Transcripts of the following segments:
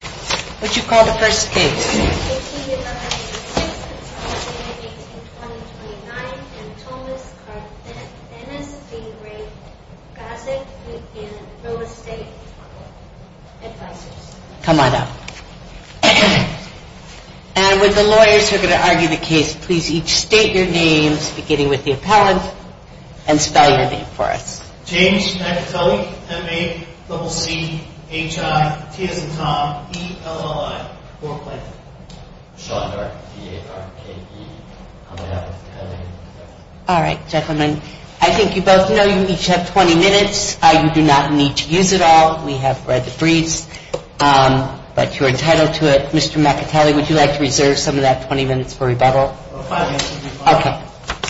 What did you call the first case? 18-19-6, 18-20-29, Antomas Cardenas v. Grozdic and Roe Estate Advisors. Come on up. And with the lawyers who are going to argue the case, please each state your names, beginning with the appellant, and spell your name for us. James McAtulley, M-A-C-C-H-I-T-S-T-O-M-E-L-L-I, Brooklyn. Shondor, T-A-R-K-E. All right, gentlemen. I think you both know you each have 20 minutes. You do not need to use it all. We have read the briefs, but you are entitled to it. Mr. McAtulley, would you like to reserve some of that 20 minutes for rebuttal? Okay.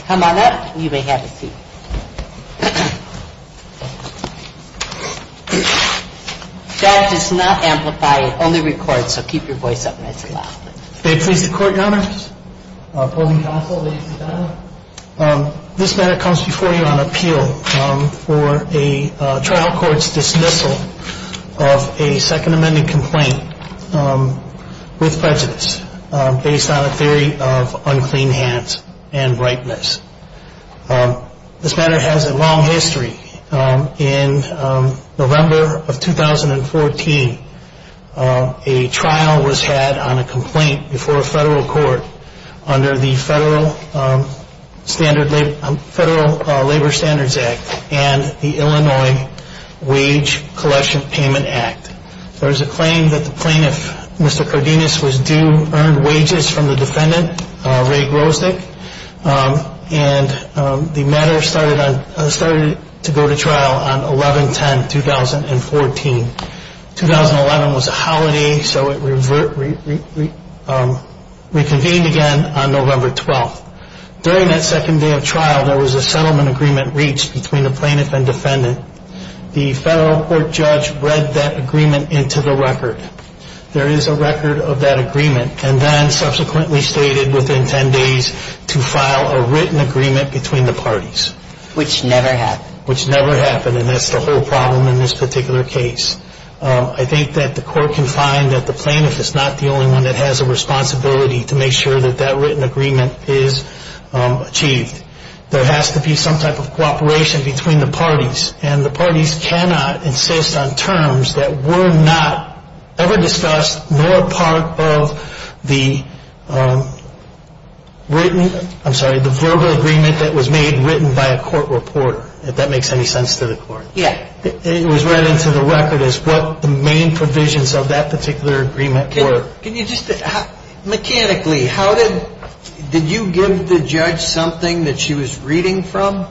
Come on up. You may have a seat. That does not amplify it. It only records, so keep your voice up when it's loud. May it please the Court, Your Honor? This matter comes before you on appeal for a trial court's dismissal of a Second Amendment complaint with prejudice based on a theory of unclean hands and ripeness. This matter has a long history. In November of 2014, a trial was had on a complaint before a federal court under the Federal Labor Standards Act and the Illinois Wage Collection Payment Act. There was a claim that the plaintiff, Mr. Cardenas, was due earned wages from the defendant, Ray Grosznik, and the matter started to go to trial on 11-10-2014. 2011 was a holiday, so it reconvened again on November 12th. During that second day of trial, there was a settlement agreement reached between the plaintiff and defendant. The federal court judge read that agreement into the record. There is a record of that agreement and then subsequently stated within 10 days to file a written agreement between the parties. Which never happened. Which never happened, and that's the whole problem in this particular case. I think that the court can find that the plaintiff is not the only one that has a responsibility to make sure that that written agreement is achieved. There has to be some type of cooperation between the parties. And the parties cannot insist on terms that were not ever discussed nor part of the verbal agreement that was made written by a court reporter. If that makes any sense to the court. It was read into the record as what the main provisions of that particular agreement were. Mechanically, how did you give the judge something that she was reading from?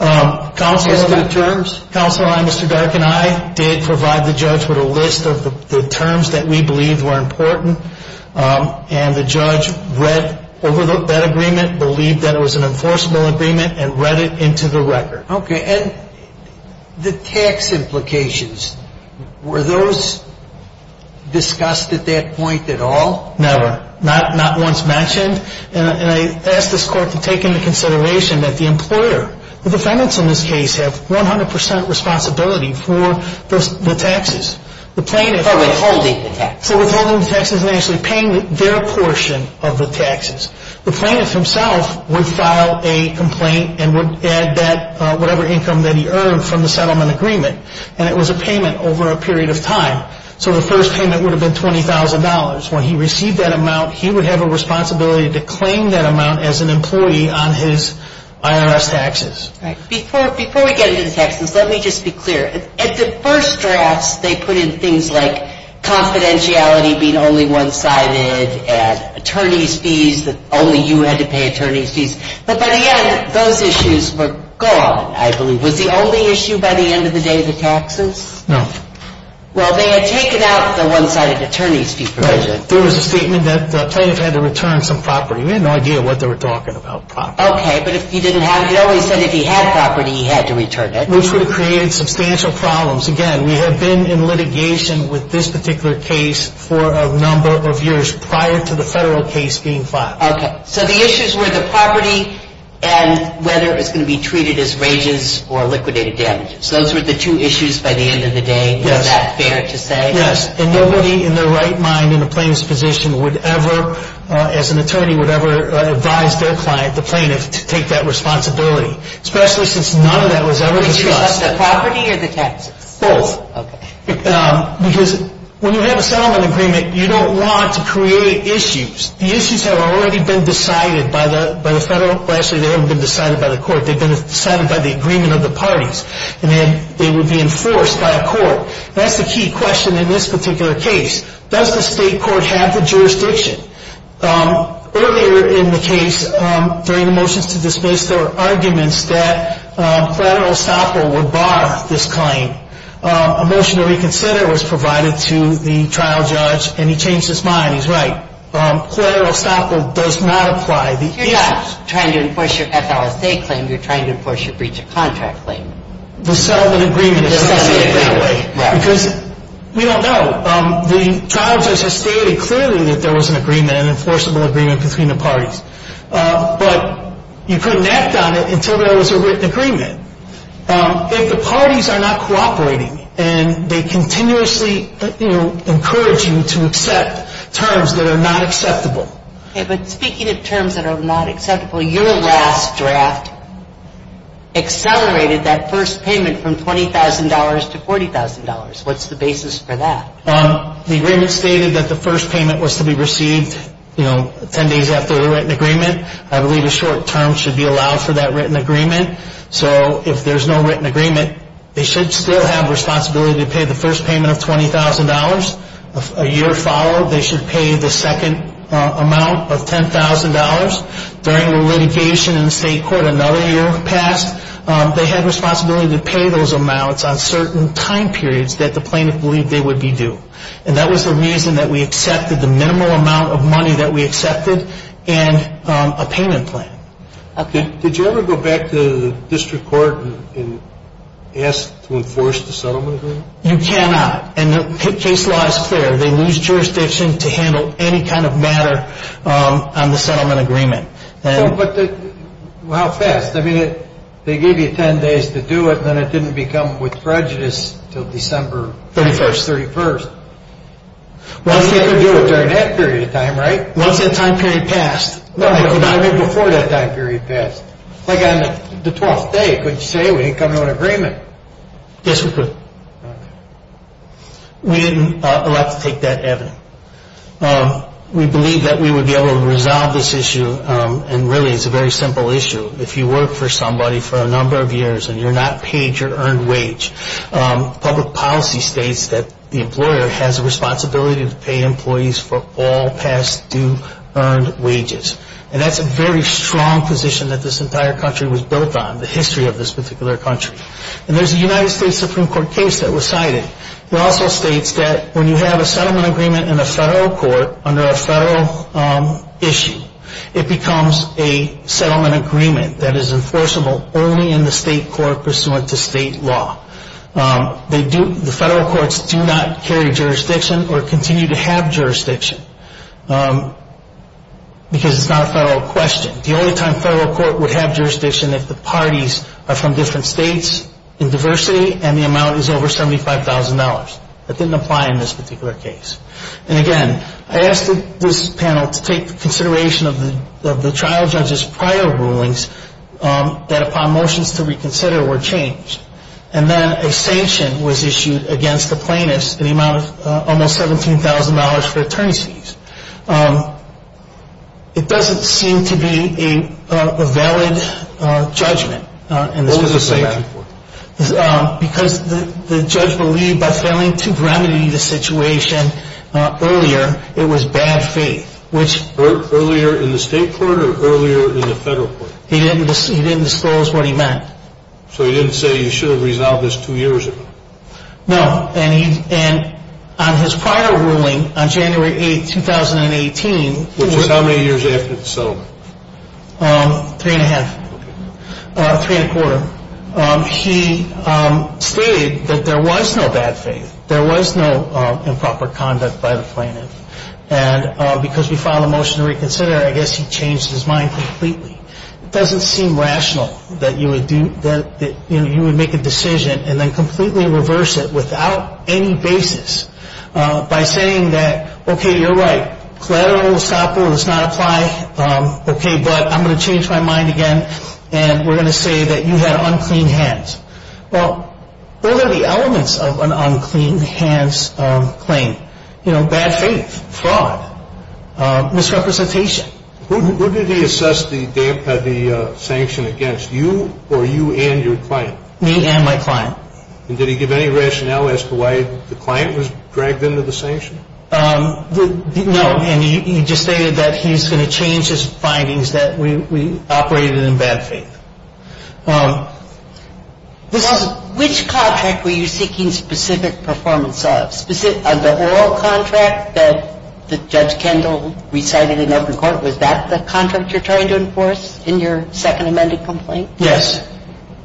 Counsel and I, Mr. Dark and I, did provide the judge with a list of the terms that we believed were important. And the judge read over that agreement, believed that it was an enforceable agreement, and read it into the record. Okay. And the tax implications, were those discussed at that point at all? Never. Not once mentioned. And I ask this court to take into consideration that the employer, the defendants in this case, have 100 percent responsibility for the taxes. For withholding the taxes. The plaintiff himself would file a complaint and would add that whatever income that he earned from the settlement agreement. And it was a payment over a period of time. So the first payment would have been $20,000. When he received that amount, he would have a responsibility to claim that amount as an employee on his IRS taxes. Before we get into the taxes, let me just be clear. At the first drafts, they put in things like confidentiality being only one-sided, and attorney's fees, that only you had to pay attorney's fees. But by the end, those issues were gone, I believe. Was the only issue by the end of the day the taxes? No. Well, they had taken out the one-sided attorney's fee provision. Right. There was a statement that the plaintiff had to return some property. We had no idea what they were talking about, property. Okay. But if he didn't have it, it always said if he had property, he had to return it. Which would have created substantial problems. Again, we had been in litigation with this particular case for a number of years prior to the federal case being filed. Okay. So the issues were the property and whether it was going to be treated as rages or liquidated damages. Those were the two issues by the end of the day. Yes. Is that fair to say? Yes. And nobody in their right mind in a plaintiff's position would ever, as an attorney, would ever advise their client, the plaintiff, to take that responsibility. Especially since none of that was ever discussed. Which is just the property or the taxes? Both. Okay. Because when you have a settlement agreement, you don't want to create issues. The issues have already been decided by the federal. Well, actually, they haven't been decided by the court. They've been decided by the agreement of the parties. And then they would be enforced by a court. That's the key question in this particular case. Does the state court have the jurisdiction? Earlier in the case, during the motions to dismiss, there were arguments that collateral estoppel would bar this claim. A motion to reconsider was provided to the trial judge, and he changed his mind. He's right. Collateral estoppel does not apply. You're not trying to enforce your FLSA claim. You're trying to enforce your breach of contract claim. The settlement agreement does not say it that way. Right. Because we don't know. The trial judge has stated clearly that there was an agreement, an enforceable agreement, between the parties. But you couldn't act on it until there was a written agreement. If the parties are not cooperating and they continuously, you know, encourage you to accept terms that are not acceptable. Okay. But speaking of terms that are not acceptable, your last draft accelerated that first payment from $20,000 to $40,000. What's the basis for that? The agreement stated that the first payment was to be received, you know, 10 days after the written agreement. I believe a short term should be allowed for that written agreement. So if there's no written agreement, they should still have responsibility to pay the first payment of $20,000. A year followed, they should pay the second amount of $10,000. During the litigation in the state court, another year passed. They had responsibility to pay those amounts on certain time periods that the plaintiff believed they would be due. And that was the reason that we accepted the minimal amount of money that we accepted and a payment plan. Okay. Did you ever go back to the district court and ask to enforce the settlement agreement? You cannot. And the case law is clear. They lose jurisdiction to handle any kind of matter on the settlement agreement. But how fast? I mean, they gave you 10 days to do it, and then it didn't become with prejudice until December 31st. Once they could do it during that period of time, right? Once that time period passed. No, I mean before that time period passed. Like on the 12th day, couldn't you say we didn't come to an agreement? Yes, we could. Okay. We didn't elect to take that avenue. We believe that we would be able to resolve this issue, and really it's a very simple issue. If you work for somebody for a number of years and you're not paid your earned wage, public policy states that the employer has a responsibility to pay employees for all past due earned wages. And that's a very strong position that this entire country was built on, the history of this particular country. And there's a United States Supreme Court case that was cited. It also states that when you have a settlement agreement in a federal court under a federal issue, it becomes a settlement agreement that is enforceable only in the state court pursuant to state law. The federal courts do not carry jurisdiction or continue to have jurisdiction because it's not a federal question. The only time a federal court would have jurisdiction is if the parties are from different states in diversity and the amount is over $75,000. That didn't apply in this particular case. And again, I asked this panel to take consideration of the trial judge's prior rulings that upon motions to reconsider were changed. And then a sanction was issued against the plaintiffs in the amount of almost $17,000 for attorney's fees. It doesn't seem to be a valid judgment. What was the sanction for? Because the judge believed by failing to remedy the situation earlier, it was bad faith. Earlier in the state court or earlier in the federal court? He didn't disclose what he meant. So he didn't say you should have resolved this two years ago? No. And on his prior ruling on January 8, 2018. Which is how many years after the settlement? Three and a half. Three and a quarter. He stated that there was no bad faith. There was no improper conduct by the plaintiff. And because we filed a motion to reconsider, I guess he changed his mind completely. It doesn't seem rational that you would make a decision and then completely reverse it without any basis. By saying that, okay, you're right, collateral stop rule does not apply. Okay, but I'm going to change my mind again. And we're going to say that you had unclean hands. Well, what are the elements of an unclean hands claim? You know, bad faith, fraud, misrepresentation. Who did he assess the sanction against, you or you and your client? Me and my client. And did he give any rationale as to why the client was dragged into the sanction? No. And he just stated that he's going to change his findings that we operated in bad faith. Which contract were you seeking specific performance of? The oral contract that Judge Kendall recited in open court, was that the contract you're trying to enforce in your second amended complaint? Yes.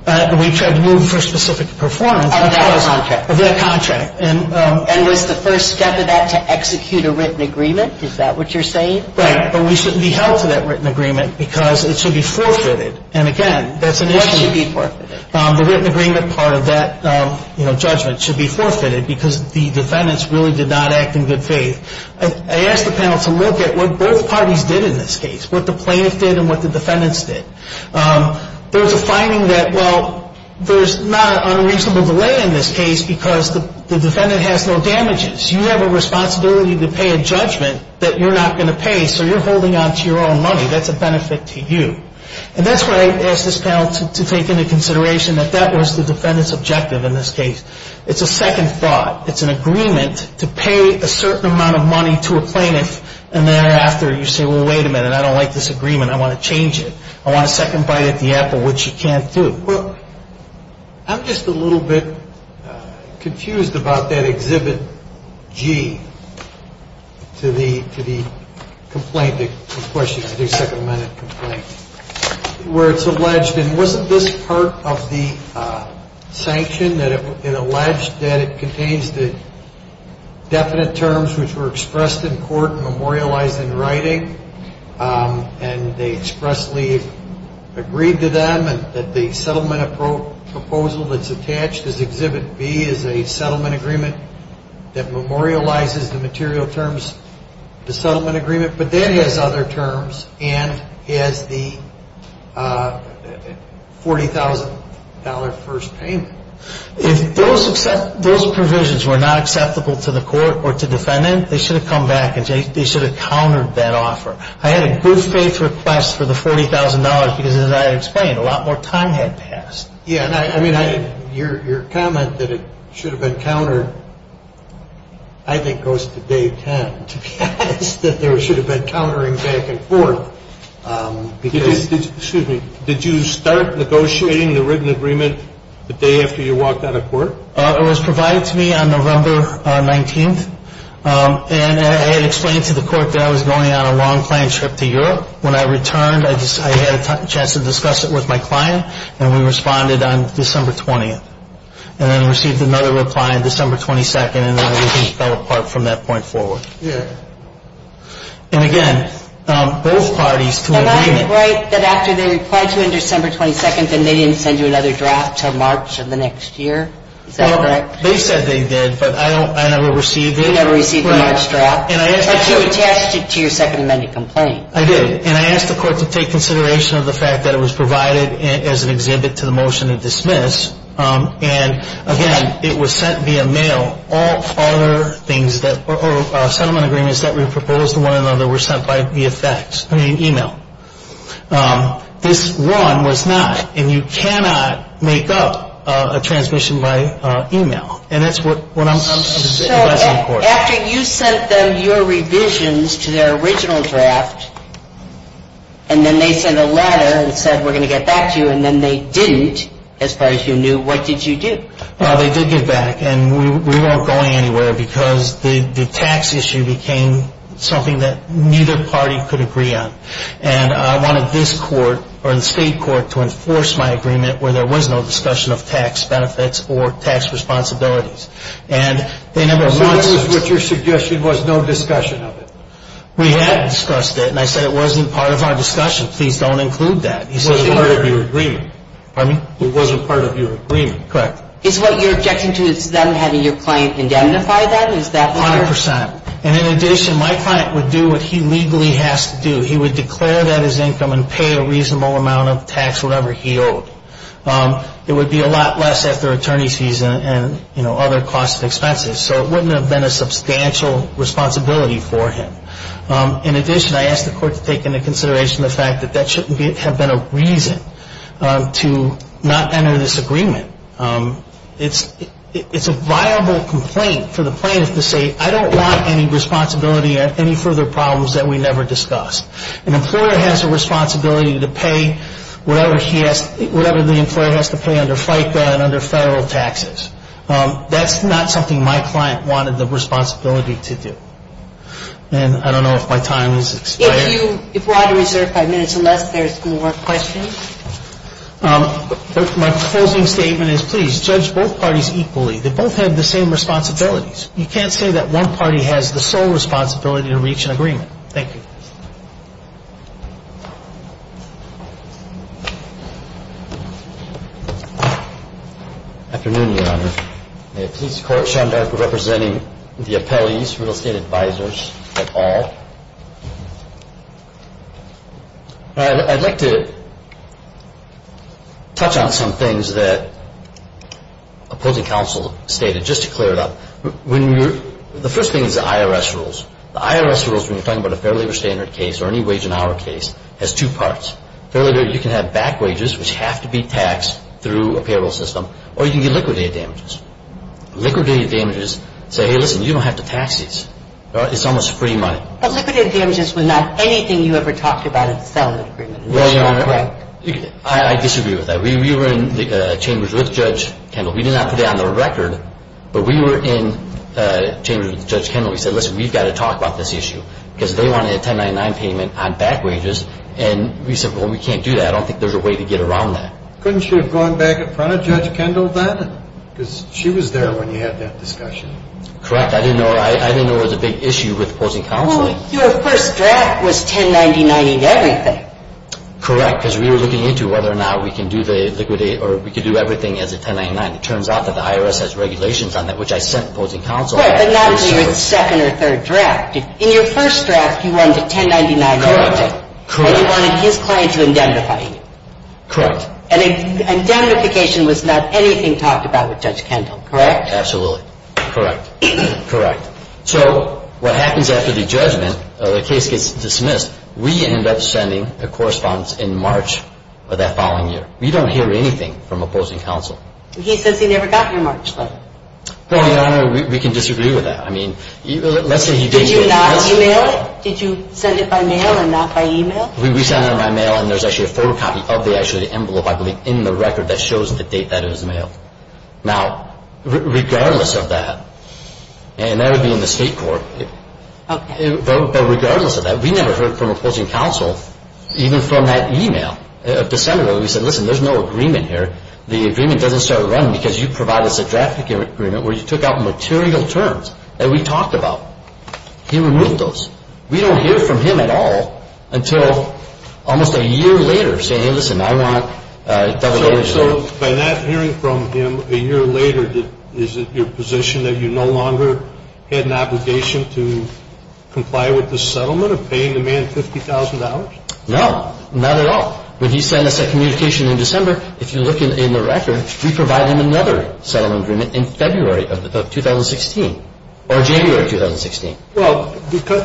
We tried to move for specific performance. Of that contract. Of that contract. And was the first step of that to execute a written agreement? Is that what you're saying? Right. But we shouldn't be held to that written agreement because it should be forfeited. And, again, that's an issue. What should be forfeited? The written agreement part of that, you know, judgment should be forfeited because the defendants really did not act in good faith. I asked the panel to look at what both parties did in this case, what the plaintiff did and what the defendants did. There was a finding that, well, there's not an unreasonable delay in this case because the defendant has no damages. You have a responsibility to pay a judgment that you're not going to pay, so you're holding on to your own money. That's a benefit to you. And that's what I asked this panel to take into consideration, that that was the defendant's objective in this case. It's a second thought. It's an agreement to pay a certain amount of money to a plaintiff, and thereafter you say, well, wait a minute, I don't like this agreement. I want to change it. I want a second bite at the apple, which you can't do. I'm just a little bit confused about that Exhibit G to the complaint, the question to the second amendment complaint, where it's alleged, and wasn't this part of the sanction that it alleged that it contains the definite terms which were expressed in court and memorialized in writing, and they expressly agreed to them, and that the settlement proposal that's attached as Exhibit B is a settlement agreement that memorializes the material terms of the settlement agreement, but that has other terms and has the $40,000 first payment. If those provisions were not acceptable to the court or to the defendant, they should have come back and they should have countered that offer. I had a good faith request for the $40,000 because, as I explained, a lot more time had passed. Yeah, and I mean, your comment that it should have been countered I think goes to day 10, to be honest, that they should have been countering back and forth. Excuse me. Did you start negotiating the written agreement the day after you walked out of court? It was provided to me on November 19th, and I had explained to the court that I was going on a long planned trip to Europe. When I returned, I had a chance to discuss it with my client, and we responded on December 20th, and then received another reply on December 22nd, and then everything fell apart from that point forward. Yeah. And, again, both parties to an agreement. Am I right that after they replied to you on December 22nd, they didn't send you another draft until March of the next year? Is that correct? They said they did, but I never received it. You never received the March draft? And I asked the court to take consideration of the fact that it was provided as an exhibit to the motion to dismiss, and, again, it was sent via mail. All other things that were settlement agreements that were proposed to one another were sent by e-mail. This one was not, and you cannot make up a transmission by e-mail, and that's what I'm discussing in court. So after you sent them your revisions to their original draft, and then they sent a letter and said, we're going to get back to you, and then they didn't as far as you knew, what did you do? They did get back, and we weren't going anywhere because the tax issue became something that neither party could agree on, and I wanted this court or the state court to enforce my agreement where there was no discussion of tax benefits or tax responsibilities. And they never once ---- So this is what your suggestion was, no discussion of it? We had discussed it, and I said it wasn't part of our discussion. Please don't include that. It wasn't part of your agreement. Pardon me? It wasn't part of your agreement. Correct. Is what you're objecting to is them having your client indemnify that? Is that part of it? 100%. And in addition, my client would do what he legally has to do. He would declare that as income and pay a reasonable amount of tax, whatever he owed. It would be a lot less after attorney's fees and, you know, other costs and expenses, so it wouldn't have been a substantial responsibility for him. In addition, I asked the court to take into consideration the fact that that shouldn't have been a reason to not enter this agreement. It's a viable complaint for the plaintiff to say, I don't want any responsibility or any further problems that we never discussed. An employer has a responsibility to pay whatever the employer has to pay under FICA and under federal taxes. That's not something my client wanted the responsibility to do. And I don't know if my time has expired. If you want to reserve five minutes or less, there's more questions. My closing statement is, please, judge both parties equally. They both have the same responsibilities. You can't say that one party has the sole responsibility to reach an agreement. Thank you. Afternoon, Your Honor. May it please the Court, Sean Darke representing the appellees, real estate advisors of all. I'd like to touch on some things that opposing counsel stated just to clear it up. The first thing is the IRS rules. The IRS rules when you're talking about a fair labor standard case or any wage and hour case has two parts. Fair labor, you can have back wages, which have to be taxed through a payroll system, or you can get liquidated damages. Liquidated damages say, hey, listen, you don't have to tax these. It's almost free money. But liquidated damages was not anything you ever talked about in the settlement agreement. Right, Your Honor. Right. I disagree with that. We were in the chambers with Judge Kendall. We did not put it on the record, but we were in chambers with Judge Kendall. We said, listen, we've got to talk about this issue because they want a 1099 payment on back wages. And we said, well, we can't do that. I don't think there's a way to get around that. Couldn't you have gone back in front of Judge Kendall then because she was there when you had that discussion? Correct. I didn't know it was a big issue with opposing counseling. Well, your first draft was 1099-ing everything. Correct, because we were looking into whether or not we can do the liquidate or we can do everything as a 1099. It turns out that the IRS has regulations on that, which I sent opposing counsel. Right, but not in your second or third draft. In your first draft, you wanted a 1099-ing everything. Correct. And you wanted his client to indemnify you. Correct. And indemnification was not anything talked about with Judge Kendall, correct? Absolutely. Correct. Correct. So what happens after the judgment, the case gets dismissed, we end up sending a correspondence in March of that following year. We don't hear anything from opposing counsel. He says he never got your March letter. Well, Your Honor, we can disagree with that. I mean, let's say he did get it. Did you not e-mail it? Did you send it by mail and not by e-mail? We sent it by mail, and there's actually a photocopy of the envelope, I believe, in the record that shows the date that it was mailed. Now, regardless of that, and that would be in the state court, but regardless of that, we never heard from opposing counsel, even from that e-mail. December, we said, listen, there's no agreement here. The agreement doesn't start running because you provided us a draft agreement where you took out material terms that we talked about. He removed those. We don't hear from him at all until almost a year later, saying, hey, listen, I want a double hearing. So by not hearing from him a year later, is it your position that you no longer had an obligation to comply with the settlement of paying the man $50,000? No. Not at all. When he sent us a communication in December, if you look in the record, we provided him another settlement agreement in February of 2016 or January of 2016. Well,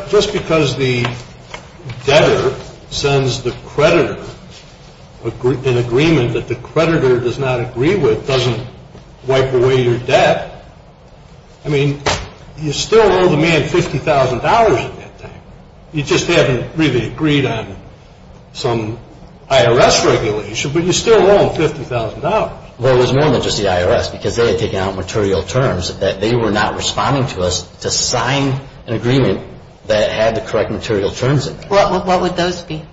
just because the debtor sends the creditor an agreement that the creditor does not agree with doesn't wipe away your debt. I mean, you still owe the man $50,000 at that time. You just haven't really agreed on some IRS regulation, but you still owe him $50,000. Well, it was more than just the IRS because they had taken out material terms that they were not responding to us to sign an agreement that had the correct material terms in it. What would those be?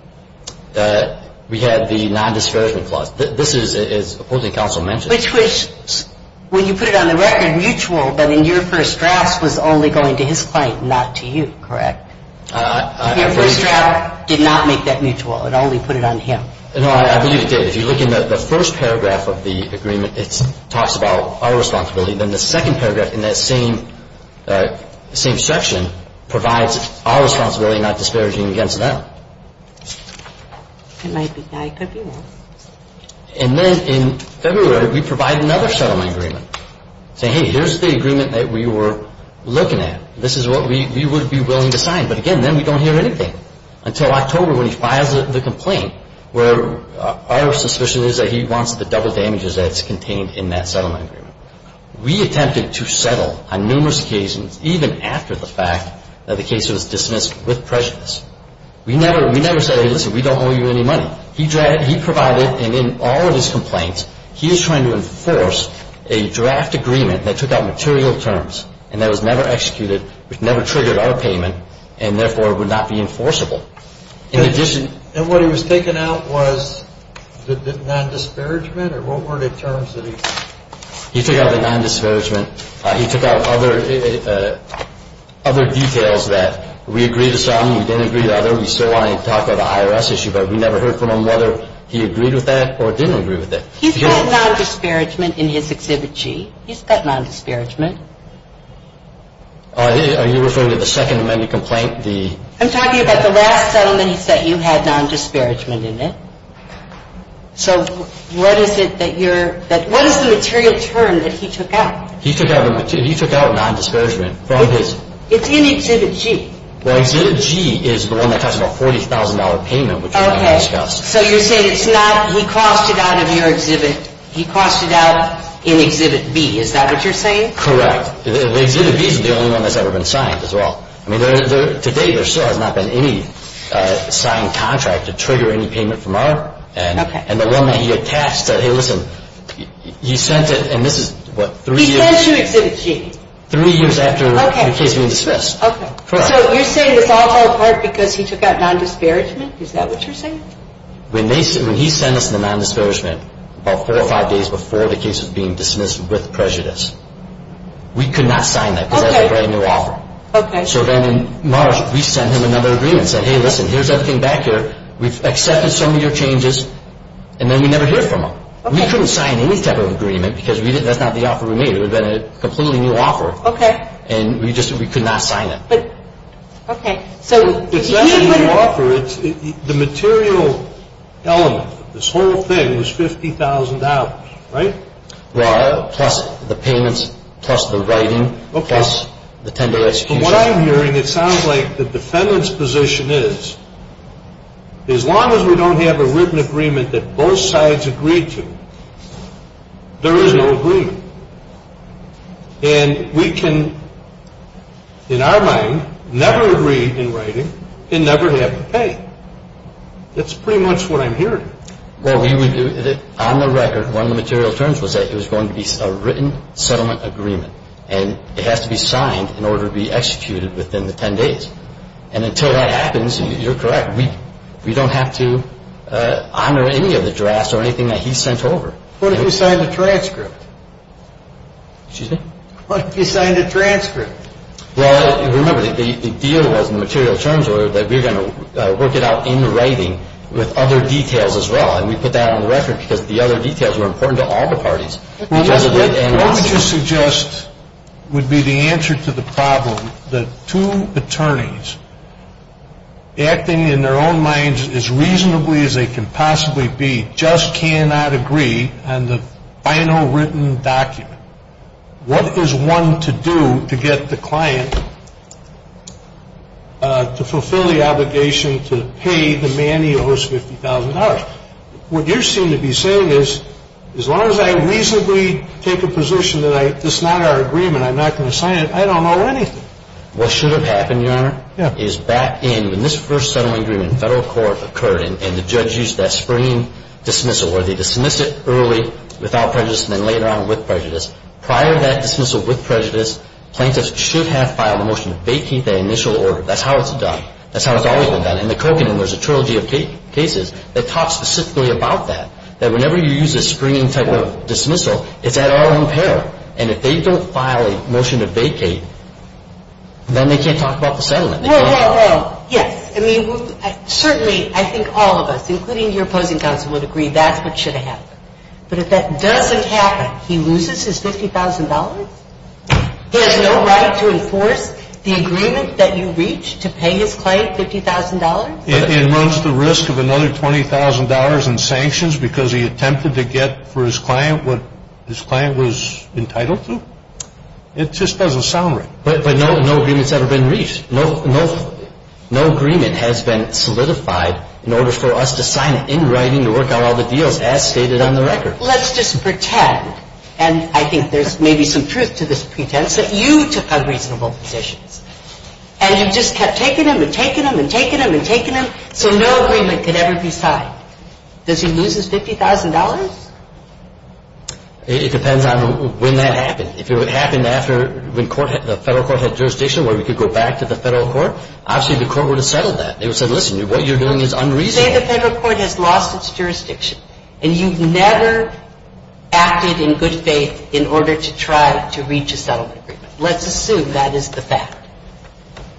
We had the non-dischargement clause. This is, as opposing counsel mentioned. Which was, when you put it on the record, mutual, but in your first draft was only going to his client, not to you, correct? Your first draft did not make that mutual. It only put it on him. No, I believe it did. If you look in the first paragraph of the agreement, it talks about our responsibility. Then the second paragraph in that same section provides our responsibility, not disparaging against them. It might be that. It could be that. And then in February, we provide another settlement agreement, saying, hey, here's the agreement that we were looking at. This is what we would be willing to sign. But again, then we don't hear anything until October when he files the complaint, where our suspicion is that he wants the double damages that's contained in that settlement agreement. We attempted to settle on numerous occasions, even after the fact, that the case was dismissed with prejudice. We never said, hey, listen, we don't owe you any money. He provided, and in all of his complaints, he is trying to enforce a draft agreement that took out material terms and that was never executed, which never triggered our payment, and therefore would not be enforceable. In addition And what he was taking out was the non-disparagement? Or what were the terms that he He took out the non-disparagement. He took out other details that we agreed to some, we didn't agree to other. We still wanted to talk about the IRS issue, but we never heard from him whether he agreed with that or didn't agree with it. He's got non-disparagement in his Exhibit G. He's got non-disparagement. Are you referring to the Second Amendment complaint? I'm talking about the last settlements that you had non-disparagement in it. So what is the material term that he took out? He took out non-disparagement from his It's in Exhibit G. Well, Exhibit G is the one that has a $40,000 payment, which we discussed. So you're saying he cost it out of your Exhibit, he cost it out in Exhibit B. Is that what you're saying? Correct. Exhibit B is the only one that's ever been signed as well. I mean, to date, there still has not been any signed contract to trigger any payment from our end. And the one that he attached said, hey, listen, you sent it, and this is what, three years? He sent you Exhibit G. Three years after the case being dismissed. Okay. So you're saying this all fell apart because he took out non-disparagement? Is that what you're saying? When he sent us the non-disparagement about four or five days before the case was being dismissed with prejudice, we could not sign that because that's a brand new offer. Okay. So then in March, we sent him another agreement and said, hey, listen, here's everything back here. We've accepted some of your changes, and then we never hear from him. We couldn't sign any type of agreement because that's not the offer we made. It would have been a completely new offer. Okay. And we just could not sign it. Okay. It's not a new offer. The material element of this whole thing was $50,000, right? Plus the payments, plus the writing, plus the tender execution. From what I'm hearing, it sounds like the defendant's position is, as long as we don't have a written agreement that both sides agree to, there is no agreement. And we can, in our mind, never agree in writing and never have to pay. That's pretty much what I'm hearing. Well, on the record, one of the material terms was that it was going to be a written settlement agreement, and it has to be signed in order to be executed within the 10 days. And until that happens, you're correct, we don't have to honor any of the drafts or anything that he sent over. What if he signed a transcript? Excuse me? What if he signed a transcript? Well, remember, the deal was in the material terms that we were going to work it out in writing with other details as well. And we put that on the record because the other details were important to all the parties. What would you suggest would be the answer to the problem that two attorneys acting in their own minds as reasonably as they can possibly be just cannot agree on the final written document? What is one to do to get the client to fulfill the obligation to pay the man he owes $50,000? What you seem to be saying is, as long as I reasonably take a position that this is not our agreement, I'm not going to sign it, I don't owe anything. What should have happened, Your Honor, is back in when this first settlement agreement in federal court occurred and the judge used that springing dismissal where they dismiss it early without prejudice and then later on with prejudice. Prior to that dismissal with prejudice, plaintiffs should have filed a motion to vacate that initial order. That's how it's done. That's how it's always been done. In the Covenant, there's a trilogy of cases that talk specifically about that, that whenever you use a springing type of dismissal, it's at our own peril. And if they don't file a motion to vacate, then they can't talk about the settlement. Well, yes. I mean, certainly I think all of us, including your opposing counsel, would agree that's what should have happened. But if that doesn't happen, he loses his $50,000? He has no right to enforce the agreement that you reached to pay his client $50,000? And runs the risk of another $20,000 in sanctions because he attempted to get for his client what his client was entitled to? It just doesn't sound right. But no agreement's ever been reached. No agreement has been solidified in order for us to sign it in writing to work out all the deals as stated on the record. Let's just pretend, and I think there's maybe some truth to this pretense, that you took unreasonable positions. And you just kept taking them and taking them and taking them and taking them, so no agreement could ever be signed. Does he lose his $50,000? It depends on when that happened. If it happened after the federal court had jurisdiction where we could go back to the federal court, obviously the court would have settled that. They would have said, listen, what you're doing is unreasonable. Say the federal court has lost its jurisdiction and you've never acted in good faith in order to try to reach a settlement agreement. Let's assume that is the fact.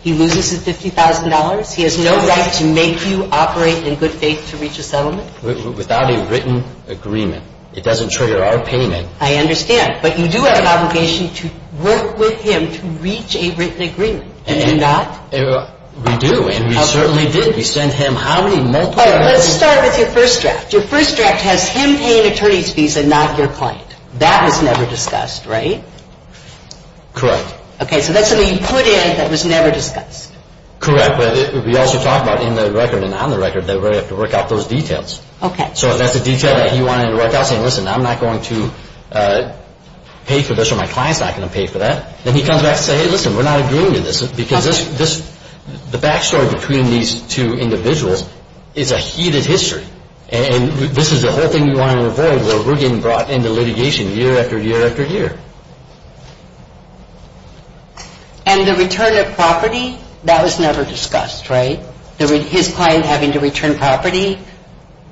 He loses his $50,000? He has no right to make you operate in good faith to reach a settlement? Without a written agreement. It doesn't trigger our payment. I understand. But you do have an obligation to work with him to reach a written agreement. Do you not? We do, and we certainly did. We sent him how many multiple? Let's start with your first draft. Your first draft has him paying attorney's fees and not your client. That was never discussed, right? Correct. Okay, so that's something you put in that was never discussed. Correct, but we also talked about in the record and on the record that we have to work out those details. Okay. So that's a detail that he wanted to work out, saying, listen, I'm not going to pay for this or my client's not going to pay for that. Then he comes back and says, hey, listen, we're not agreeing to this because the back story between these two individuals is a heated history, and this is the whole thing we want to avoid where we're getting brought into litigation year after year after year. And the return of property, that was never discussed, right? His client having to return property,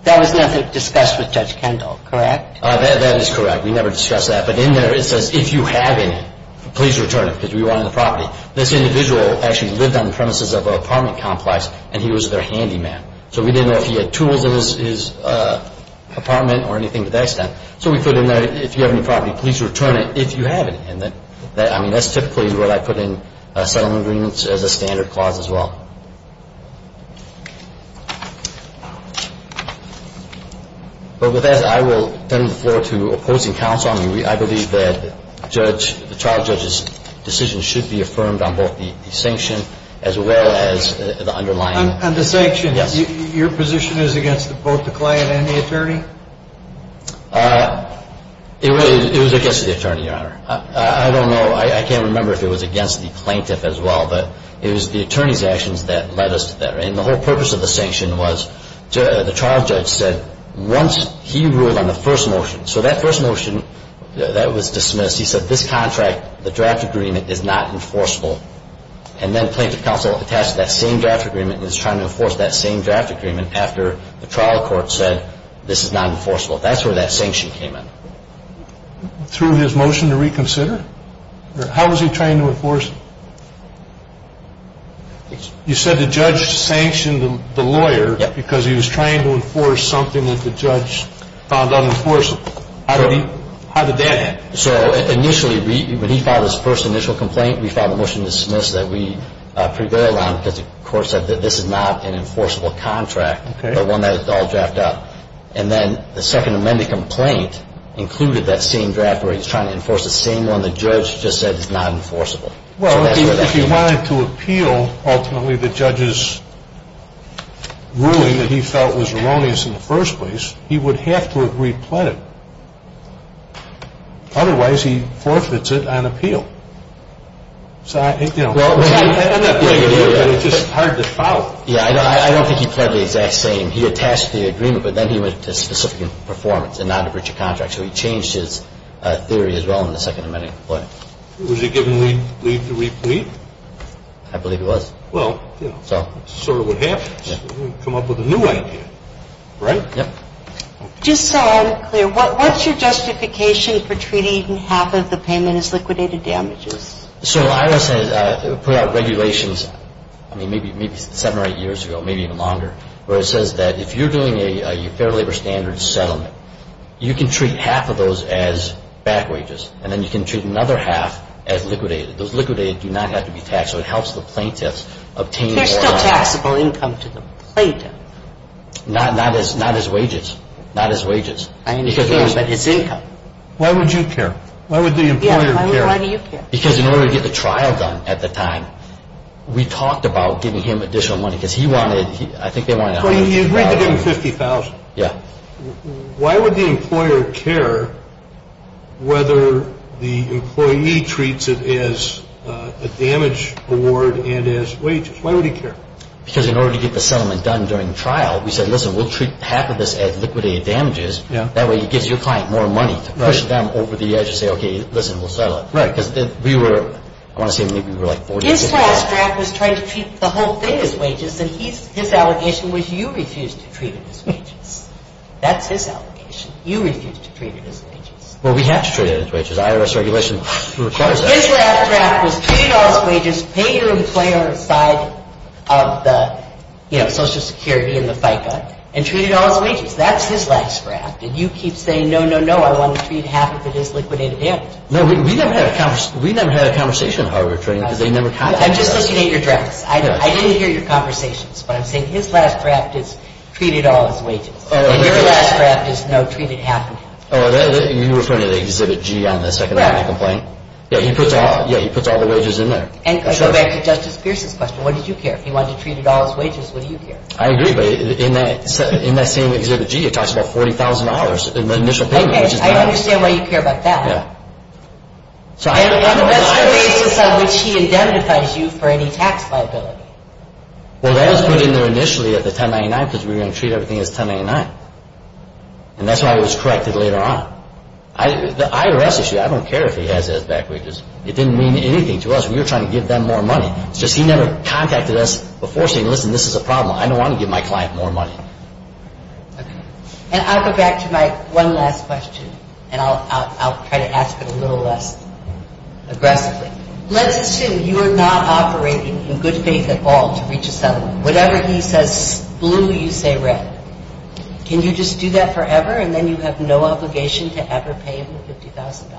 that was never discussed with Judge Kendall, correct? That is correct. We never discussed that. But in there it says, if you have any, please return it because we want the property. This individual actually lived on the premises of an apartment complex, and he was their handyman. So we didn't know if he had tools in his apartment or anything to that extent. So we put in there, if you have any property, please return it if you have any. That's typically what I put in settlement agreements as a standard clause as well. But with that, I will turn the floor to opposing counsel. I believe that the trial judge's decision should be affirmed on both the sanction as well as the underlying. On the sanction, your position is against both the client and the attorney? It was against the attorney, Your Honor. I don't know. I can't remember if it was against the plaintiff as well. But it was the attorney's actions that led us to that. And the whole purpose of the sanction was the trial judge said once he ruled on the first motion. So that first motion, that was dismissed. He said this contract, the draft agreement, is not enforceable. And then plaintiff counsel attached to that same draft agreement That's where that sanction came in. Through his motion to reconsider? How was he trying to enforce it? You said the judge sanctioned the lawyer because he was trying to enforce something that the judge found unenforceable. How did that happen? So initially, when he filed his first initial complaint, we filed a motion to dismiss that. We prevailed on it because the court said that this is not an enforceable contract. And then the second amended complaint included that same draft where he was trying to enforce the same one the judge just said is not enforceable. Well, if he wanted to appeal, ultimately, the judge's ruling that he felt was erroneous in the first place, he would have to have re-pled it. Otherwise, he forfeits it on appeal. It's just hard to follow. Yeah, I don't think he pled the exact same. He attached the agreement, but then he went to specific performance and not to breach a contract. So he changed his theory as well in the second amended complaint. Was he given leave to re-plead? I believe he was. Well, that's sort of what happens. Come up with a new idea. Right? Yep. Just so I'm clear, what's your justification for treating even half of the payment as liquidated damages? So IRS put out regulations, I mean, maybe seven or eight years ago, maybe even longer, where it says that if you're doing a fair labor standards settlement, you can treat half of those as back wages, and then you can treat another half as liquidated. Those liquidated do not have to be taxed, so it helps the plaintiffs obtain more. There's still taxable income to the plaintiff. Not as wages. I understand. But it's income. Why would you care? Why would the employer care? Yeah, why do you care? Because in order to get the trial done at the time, we talked about giving him additional money, because he wanted, I think they wanted $150,000. So you agreed to give him $50,000. Yeah. Why would the employer care whether the employee treats it as a damage award and as wages? Why would he care? Because in order to get the settlement done during trial, we said, listen, we'll treat half of this as liquidated damages. That way it gives your client more money to push them over the edge and say, okay, listen, we'll settle it. Right. Because we were, I want to say maybe we were like 40 or 50. His last draft was trying to treat the whole thing as wages, and his allegation was you refused to treat it as wages. That's his allegation. You refused to treat it as wages. Well, we have to treat it as wages. IRS regulation requires that. His last draft was treat it all as wages, pay your employer on the side of the, you know, Social Security and the FICA, and treat it all as wages. That's his last draft. And you keep saying, no, no, no, I want to treat half of it as liquidated damages. No, we never had a conversation in hardware trading because they never contacted us. I'm just looking at your drafts. I didn't hear your conversations, but I'm saying his last draft is treat it all as wages. And your last draft is, no, treat it half. Oh, you're referring to the Exhibit G on the second line of complaint? Right. Yeah, he puts all the wages in there. And to go back to Justice Pierce's question, what did you care? If he wanted to treat it all as wages, what do you care? I agree, but in that same Exhibit G, it talks about $40,000 in the initial payment. Okay, I understand why you care about that. Yeah. And that's the basis on which he indemnifies you for any tax liability. Well, that was put in there initially at the 1099 because we were going to treat everything as 1099. And that's why it was corrected later on. The IRS issue, I don't care if he has it as back wages. It didn't mean anything to us. We were trying to give them more money. It's just he never contacted us before saying, listen, this is a problem. I don't want to give my client more money. Okay. And I'll go back to my one last question, and I'll try to ask it a little less aggressively. Let's assume you are not operating in good faith at all to reach a settlement. Whatever he says blue, you say red. Can you just do that forever, and then you have no obligation to ever pay him $50,000?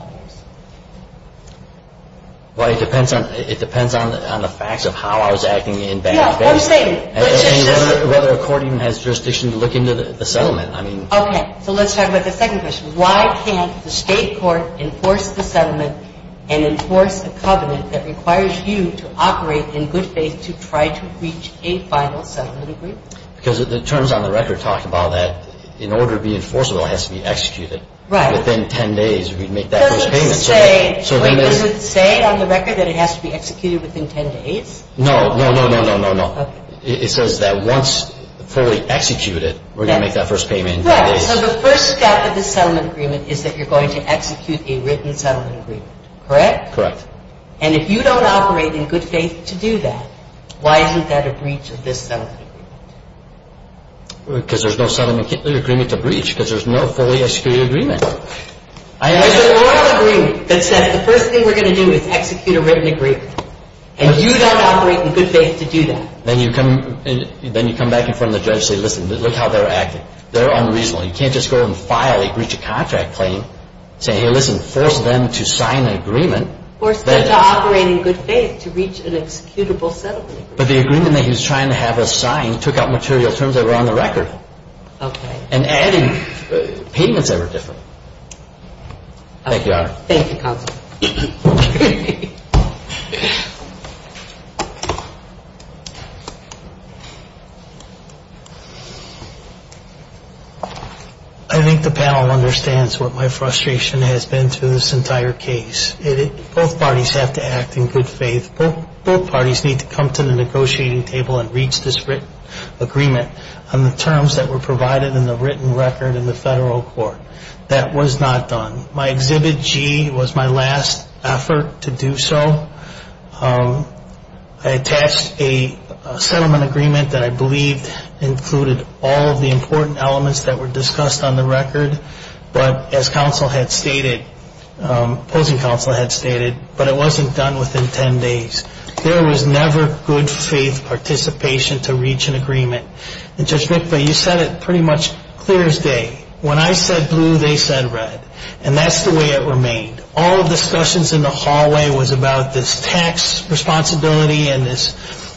Well, it depends on the facts of how I was acting in bad faith. No, I'm saying, let's just say. Whether a court even has jurisdiction to look into the settlement. Okay. So let's talk about the second question. Why can't the state court enforce the settlement and enforce a covenant that requires you to operate in good faith to try to reach a final settlement agreement? Because the terms on the record talk about that in order to be enforceable, it has to be executed. Right. Within 10 days, we'd make that first payment. Wait, does it say on the record that it has to be executed within 10 days? No, no, no, no, no, no. Okay. It says that once fully executed, we're going to make that first payment in 10 days. Right. So the first step of the settlement agreement is that you're going to execute a written settlement agreement, correct? Correct. And if you don't operate in good faith to do that, why isn't that a breach of this settlement agreement? Because there's no settlement agreement to breach because there's no fully executed agreement. There's an oral agreement that says the first thing we're going to do is execute a written agreement. And you don't operate in good faith to do that. Then you come back in front of the judge and say, listen, look how they're acting. They're unreasonable. You can't just go and file a breach of contract claim and say, hey, listen, force them to sign an agreement. Force them to operate in good faith to reach an executable settlement agreement. But the agreement that he was trying to have us sign took out material terms that were on the record. Okay. And added payments that were different. Thank you, Your Honor. Thank you, Counsel. I think the panel understands what my frustration has been through this entire case. Both parties have to act in good faith. Both parties need to come to the negotiating table and reach this written agreement on the terms that were provided in the written record in the federal court. That was not done. My Exhibit G was my last effort to do so. I attached a settlement agreement that I believed included all of the important elements that were discussed on the record. But as counsel had stated, opposing counsel had stated, but it wasn't done within ten days. There was never good faith participation to reach an agreement. And Judge Mikva, you said it pretty much clear as day. When I said blue, they said red. And that's the way it remained. All discussions in the hallway was about this tax responsibility and this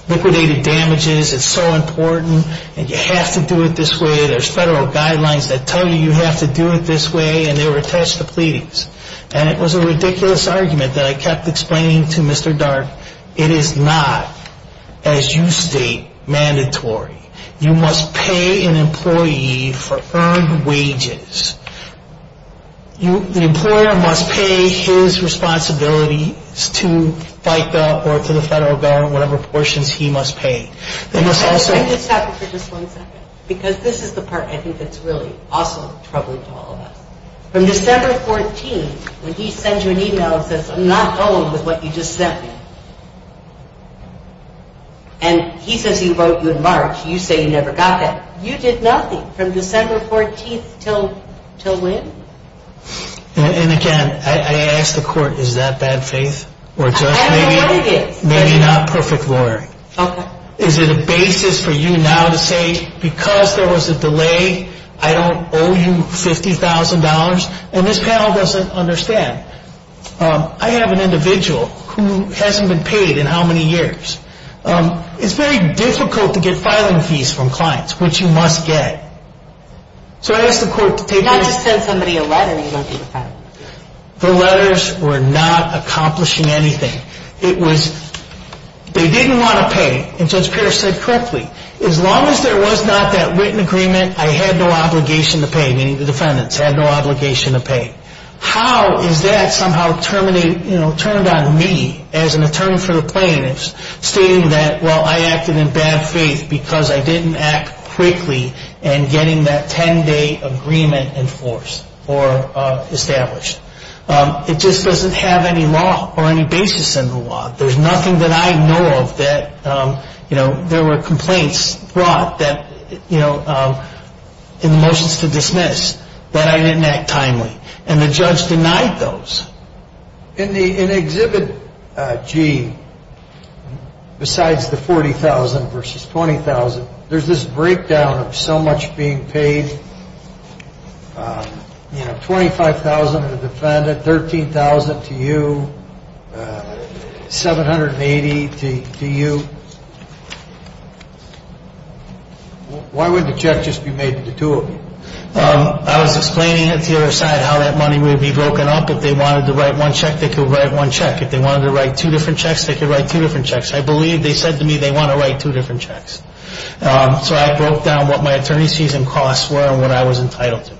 liquidated damages. It's so important. And you have to do it this way. There's federal guidelines that tell you you have to do it this way, and they were attached to pleadings. And it was a ridiculous argument that I kept explaining to Mr. Darke. It is not, as you state, mandatory. You must pay an employee for earned wages. The employer must pay his responsibilities to FICA or to the federal government, whatever portions he must pay. Let me stop you for just one second. Because this is the part I think that's really also troubling to all of us. From December 14th, when he sends you an e-mail and says, I'm not done with what you just sent me, and he says he vote you in March, you say you never got that. You did nothing from December 14th till when? And again, I ask the court, is that bad faith? I don't know what it is. Maybe not perfect lawyering. Okay. Is it a basis for you now to say, because there was a delay, I don't owe you $50,000? And this panel doesn't understand. I have an individual who hasn't been paid in how many years. It's very difficult to get filing fees from clients, which you must get. So I ask the court to take this. Not just send somebody a letter and he won't take a file. The letters were not accomplishing anything. It was they didn't want to pay. And Judge Pierce said correctly, as long as there was not that written agreement, I had no obligation to pay, meaning the defendants had no obligation to pay. How is that somehow terminated, you know, turned on me as an attorney for the plaintiffs, stating that, well, I acted in bad faith because I didn't act quickly in getting that 10-day agreement enforced or established? It just doesn't have any law or any basis in the law. There's nothing that I know of that, you know, there were complaints brought in the motions to dismiss that I didn't act timely. And the judge denied those. In Exhibit G, besides the $40,000 versus $20,000, there's this breakdown of so much being paid, you know, $25,000 to the defendant, $13,000 to you, $780 to you. Why wouldn't a check just be made to the two of you? I was explaining it to your side how that money would be broken up. If they wanted to write one check, they could write one check. If they wanted to write two different checks, they could write two different checks. I believe they said to me they want to write two different checks. So I broke down what my attorney's fees and costs were and what I was entitled to.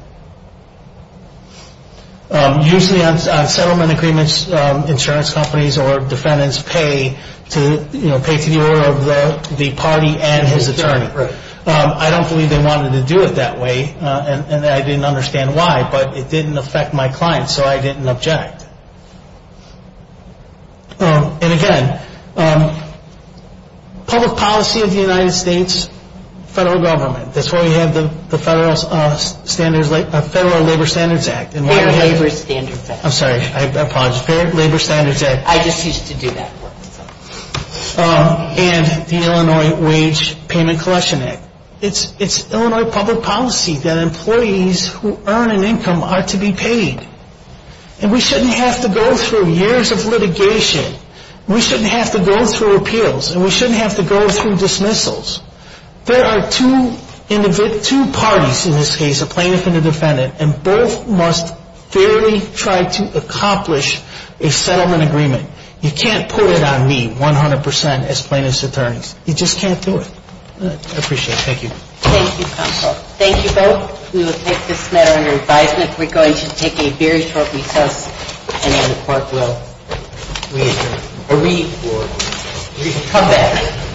Usually on settlement agreements, insurance companies or defendants pay to, you know, pay to the order of the party and his attorney. I don't believe they wanted to do it that way, and I didn't understand why, but it didn't affect my client, so I didn't object. And again, public policy of the United States federal government. That's why we have the Federal Labor Standards Act. Fair Labor Standards Act. I'm sorry, I apologize. Fair Labor Standards Act. I just used to do that work. And the Illinois Wage Payment Collection Act. And we shouldn't have to go through years of litigation. We shouldn't have to go through appeals, and we shouldn't have to go through dismissals. There are two parties in this case, a plaintiff and a defendant, and both must fairly try to accomplish a settlement agreement. You can't put it on me 100% as plaintiff's attorneys. You just can't do it. I appreciate it. Thank you. Thank you, counsel. Thank you both. We will take this matter under advisement. We're going to take a very short recess, and then the court will re-adjourn. Or re-forward. Come back.